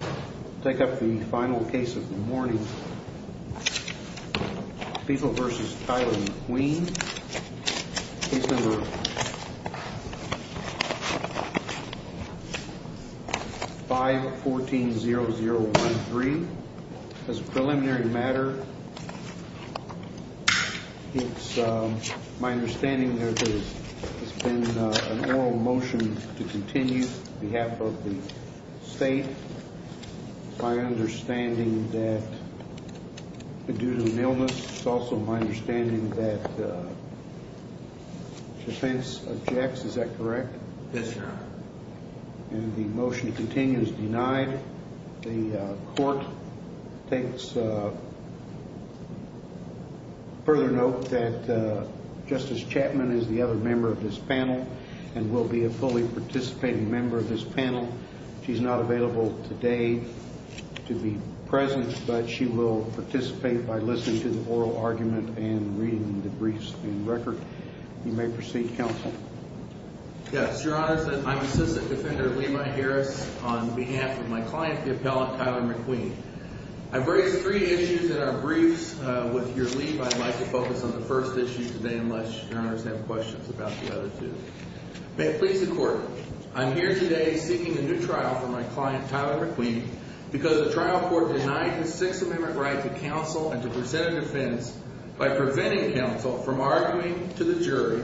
I'll take up the final case of the morning, People v. Tyler McQueen, case number 514-0013. As a preliminary matter, it's my understanding that there has been an oral motion to continue on behalf of the state due to an illness. It's also my understanding that defense objects. Is that correct? Yes, sir. And the motion continues denied. The court takes further note that Justice Chapman is the other member of this panel and will be a fully participating member of this panel. She's not available today to be present, but she will participate by listening to the oral argument and reading the briefs in record. You may proceed, counsel. Yes. Your Honor, I'm Assistant Defender Levi Harris on behalf of my client, the appellate Tyler McQueen. I've raised three issues in our briefs. With your leave, I'd like to focus on the first issue today unless your Honors have questions about the other two. May it please the Court, I'm here today seeking a new trial for my client, Tyler McQueen, because the trial court denied his Sixth Amendment right to counsel and to present a defense by preventing counsel from arguing to the jury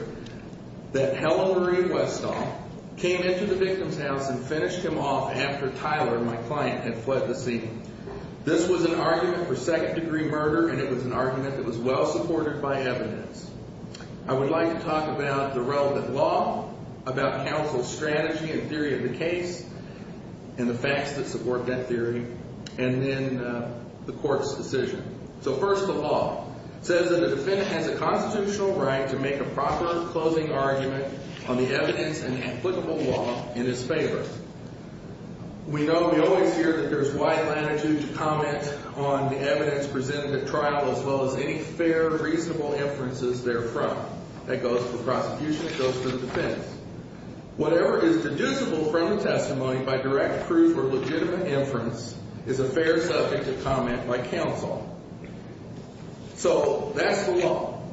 that Helen Marie Westall came into the victim's house and finished him off after Tyler, my client, had fled the scene. This was an argument for second-degree murder, and it was an argument that was well-supported by evidence. I would like to talk about the relevant law, about counsel's strategy and theory of the case and the facts that support that theory, and then the Court's decision. So first, the law says that the defendant has a constitutional right to make a proper closing argument on the evidence and applicable law in his favor. We know, we always hear that there's wide latitude to comment on the evidence presented at trial as well as any fair, reasonable inferences therefrom. That goes to the prosecution, it goes to the defense. Whatever is deducible from the testimony by direct proof or legitimate inference is a fair subject to comment by counsel. So that's the law.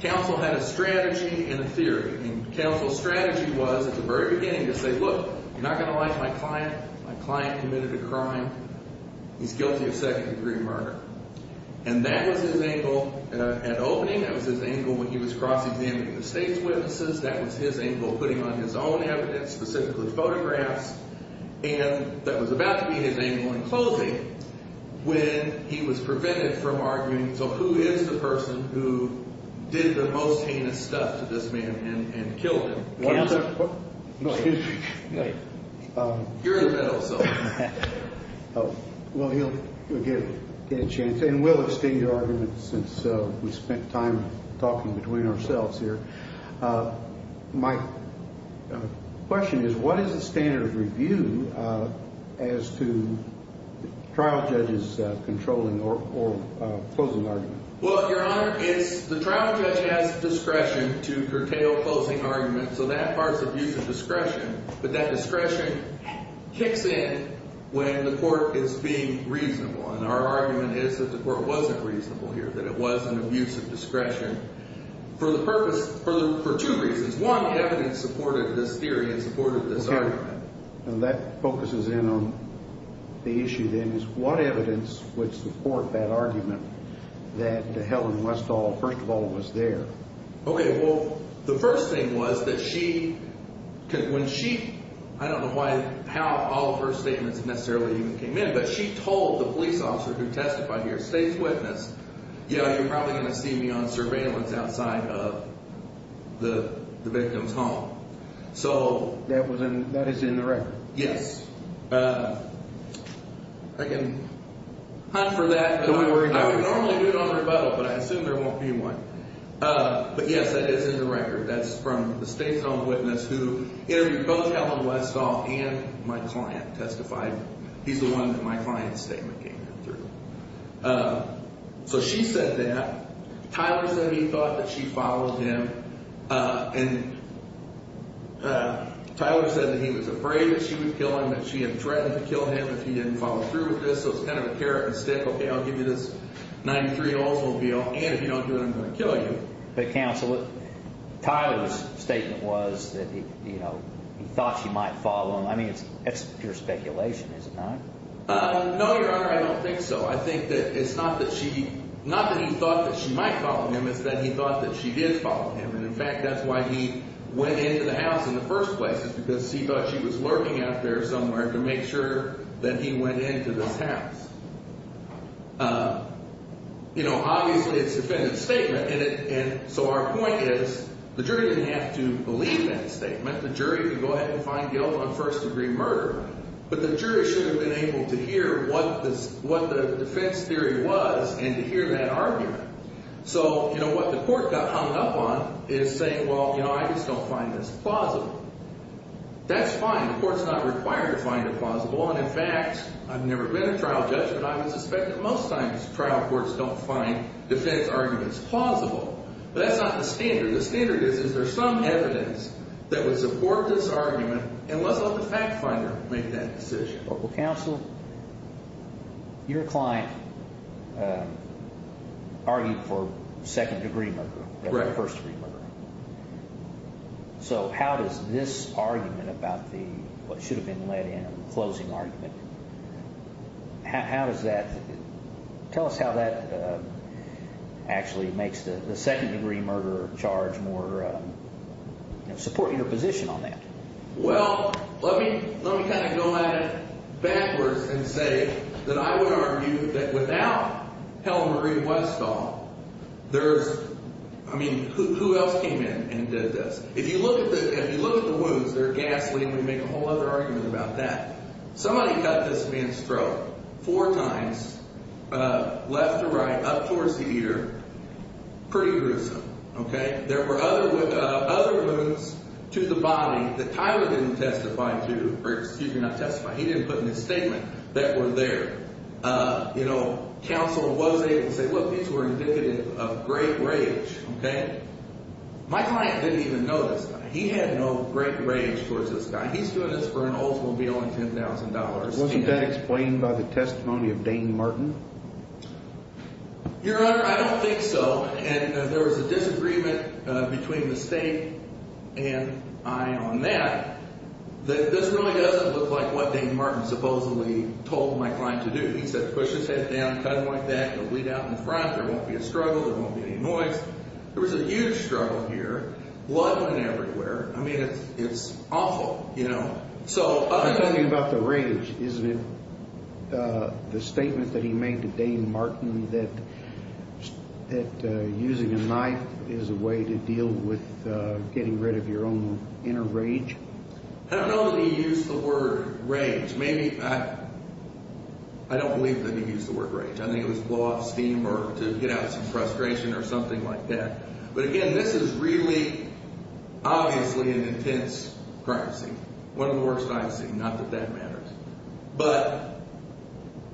Counsel had a strategy and a theory. And counsel's strategy was, at the very beginning, to say, Look, you're not going to like my client. My client committed a crime. He's guilty of second-degree murder. And that was his angle at opening. That was his angle when he was cross-examining the state's witnesses. That was his angle putting on his own evidence, specifically photographs. And that was about to be his angle in closing when he was prevented from arguing, So who is the person who did the most heinous stuff to this man and killed him? Counsel? No, excuse me. You're in the middle, so. Well, he'll get a chance. And we'll extend your argument since we spent time talking between ourselves here. My question is, what is the standard of review as to trial judges controlling or closing arguments? Well, Your Honor, it's the trial judge has discretion to curtail closing arguments. So that part's abuse of discretion. But that discretion kicks in when the court is being reasonable. And our argument is that the court wasn't reasonable here, that it was an abuse of discretion. For the purpose, for two reasons. One, evidence supported this theory and supported this argument. Okay. And that focuses in on the issue, then, is what evidence would support that argument that Helen Westall, first of all, was there? Okay, well, the first thing was that she, when she, I don't know how all of her statements necessarily even came in, but she told the police officer who testified here, state's witness, you know, you're probably going to see me on surveillance outside of the victim's home. So. That is in the record. Yes. I can hunt for that. Don't worry about it. I would normally do it on rebuttal, but I assume there won't be one. But, yes, that is in the record. That's from the state's own witness who interviewed both Helen Westall and my client testified. He's the one that my client's statement came through. So she said that. Tyler said he thought that she followed him. And Tyler said that he was afraid that she would kill him, that she had threatened to kill him if he didn't follow through with this. So it's kind of a carrot and stick. Okay, I'll give you this 93 Oldsmobile, and if you don't do it, I'm going to kill you. But, counsel, Tyler's statement was that, you know, he thought she might follow him. I mean, that's pure speculation, is it not? No, Your Honor, I don't think so. I think that it's not that she – not that he thought that she might follow him. It's that he thought that she did follow him. And, in fact, that's why he went into the house in the first place is because he thought she was lurking out there somewhere to make sure that he went into this house. You know, obviously, it's a defendant's statement. And so our point is the jury didn't have to believe that statement. The jury could go ahead and find guilt on first-degree murder. But the jury shouldn't have been able to hear what the defense theory was and to hear that argument. So, you know, what the court got hung up on is saying, well, you know, I just don't find this plausible. That's fine. The court's not required to find it plausible. And, in fact, I've never been a trial judge, but I would suspect that most times trial courts don't find defense arguments plausible. But that's not the standard. The standard is is there some evidence that would support this argument and let's let the fact finder make that decision. Well, counsel, your client argued for second-degree murder, first-degree murder. So how does this argument about what should have been let in, the closing argument, how does that – support your position on that? Well, let me kind of go at it backwards and say that I would argue that without Helen Marie Westall, there's – I mean, who else came in and did this? If you look at the wounds, they're ghastly. We can make a whole other argument about that. Somebody cut this man's throat four times, left to right, up towards the ear. Pretty gruesome. There were other wounds to the body that Tyler didn't testify to – or, excuse me, not testify. He didn't put in his statement that were there. Counsel was able to say, look, these were indicative of great rage. My client didn't even know this guy. He had no great rage towards this guy. He's doing this for an Oldsmobile and $10,000. Wasn't that explained by the testimony of Dane Martin? Your Honor, I don't think so. And there was a disagreement between the State and I on that. This really doesn't look like what Dane Martin supposedly told my client to do. He said, push his head down, cut him like that, he'll bleed out in front, there won't be a struggle, there won't be any noise. There was a huge struggle here. Blood went everywhere. I mean, it's awful. I'm talking about the rage. Isn't it the statement that he made to Dane Martin that using a knife is a way to deal with getting rid of your own inner rage? I don't know that he used the word rage. Maybe – I don't believe that he used the word rage. I think it was blow off steam or to get out of some frustration or something like that. But, again, this is really, obviously, an intense crime scene. One of the worst I've seen, not that that matters. But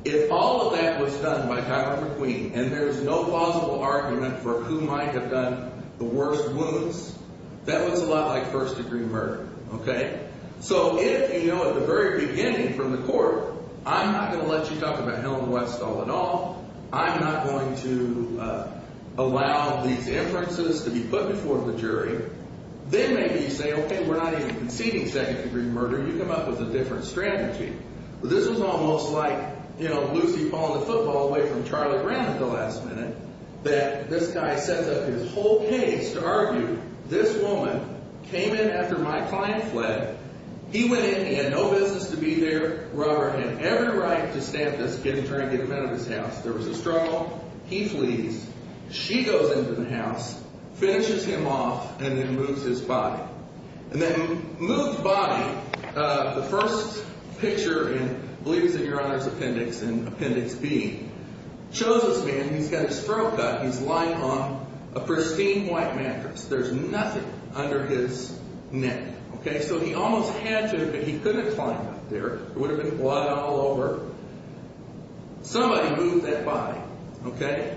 if all of that was done by Tyler McQueen and there's no plausible argument for who might have done the worst wounds, that was a lot like first-degree murder. Okay? So if, you know, at the very beginning from the court, I'm not going to let you talk about Helen Westall at all. I'm not going to allow these inferences to be put before the jury. Then maybe you say, okay, we're not even conceding second-degree murder. You come up with a different strategy. This is almost like, you know, Lucy following the football away from Charlie Brown at the last minute that this guy sets up his whole case to argue this woman came in after my client fled. He went in. He had no business to be there. Robert had every right to stay at this get-him-trying-to-get-him-out-of-his-house. There was a struggle. He flees. She goes into the house, finishes him off, and then moves his body. And that moved body, the first picture in, I believe it was in Your Honor's appendix in Appendix B, shows this man. He's got his throat cut. He's lying on a pristine white mattress. There's nothing under his neck. Okay? So he almost had to, but he couldn't climb up there. There would have been blood all over. Somebody moved that body, okay?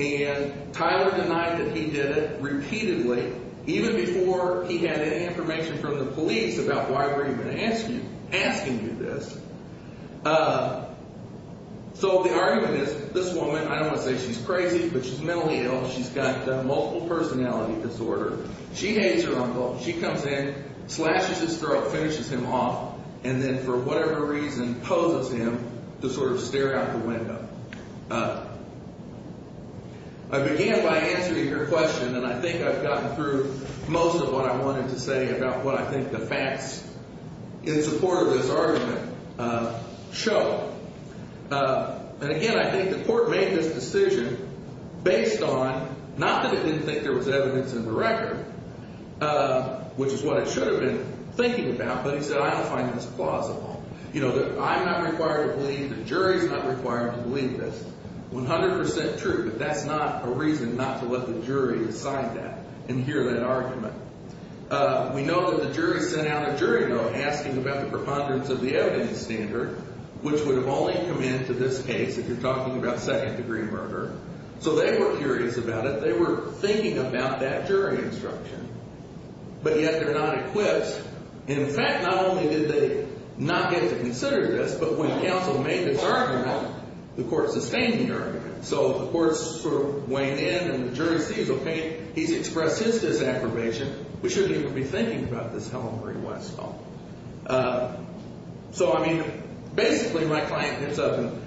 And Tyler denied that he did it repeatedly, even before he had any information from the police about why we're even asking you this. So the argument is this woman, I don't want to say she's crazy, but she's mentally ill. She's got multiple personality disorder. She hates her uncle. She comes in, slashes his throat, finishes him off, and then for whatever reason poses him to sort of stare out the window. I began by answering your question, and I think I've gotten through most of what I wanted to say about what I think the facts in support of this argument show. And again, I think the court made this decision based on, not that it didn't think there was evidence in the record, which is what it should have been thinking about, but he said, I don't find this plausible. You know, I'm not required to believe, the jury's not required to believe this. 100% true, but that's not a reason not to let the jury decide that and hear that argument. We know that the jury sent out a jury note asking about the preponderance of the evidence standard, which would have only come into this case if you're talking about second-degree murder. So they were curious about it. They were thinking about that jury instruction, but yet they're not equipped. In fact, not only did they not get to consider this, but when counsel made this argument, the court sustained the argument. So the courts sort of weighed in, and the jury sees, okay, he's expressed his disaffirmation. We shouldn't even be thinking about this Helen Marie Westall. So, I mean, basically my client hits up and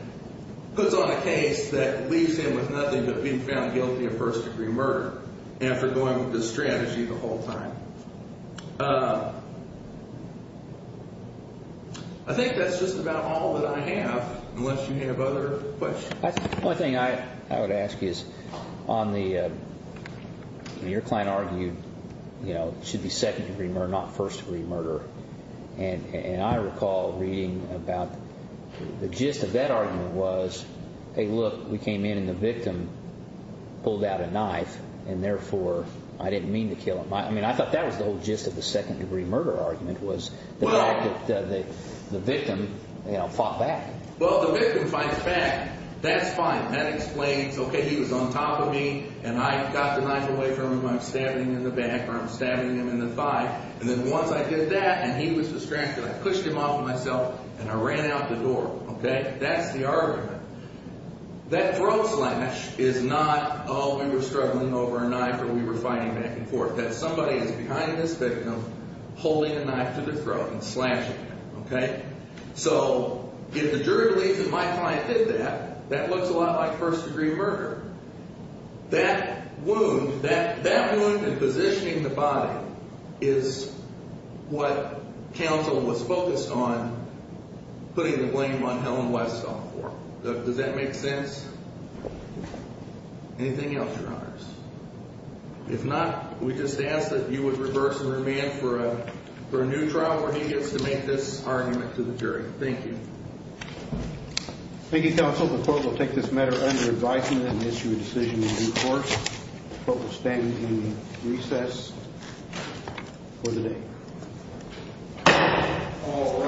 puts on a case that leaves him with nothing but being found guilty of first-degree murder after going with this strategy the whole time. I think that's just about all that I have, unless you have other questions. The only thing I would ask is on the – your client argued it should be second-degree murder, not first-degree murder. And I recall reading about the gist of that argument was, hey, look, we came in and the victim pulled out a knife, and therefore I didn't mean to kill him. I mean I thought that was the whole gist of the second-degree murder argument was the fact that the victim fought back. Well, the victim fights back. That's fine. That explains, okay, he was on top of me, and I got the knife away from him. I'm stabbing him in the back or I'm stabbing him in the thigh. And then once I did that and he was distracted, I pushed him off of myself and I ran out the door. Okay? That's the argument. That throat slash is not, oh, we were struggling over a knife or we were fighting back and forth. That somebody is behind this victim holding a knife to the throat and slashing him. Okay? So if the jury believes that my client did that, that looks a lot like first-degree murder. That wound, that wound and positioning the body is what counsel was focused on putting the blame on Helen Westall for. Does that make sense? Anything else, Your Honors? If not, we just ask that you would reverse and remand for a new trial where he gets to make this argument to the jury. Thank you. Thank you, counsel. The court will take this matter under advisement and issue a decision in due course. The court will stand in recess for the day. All rise.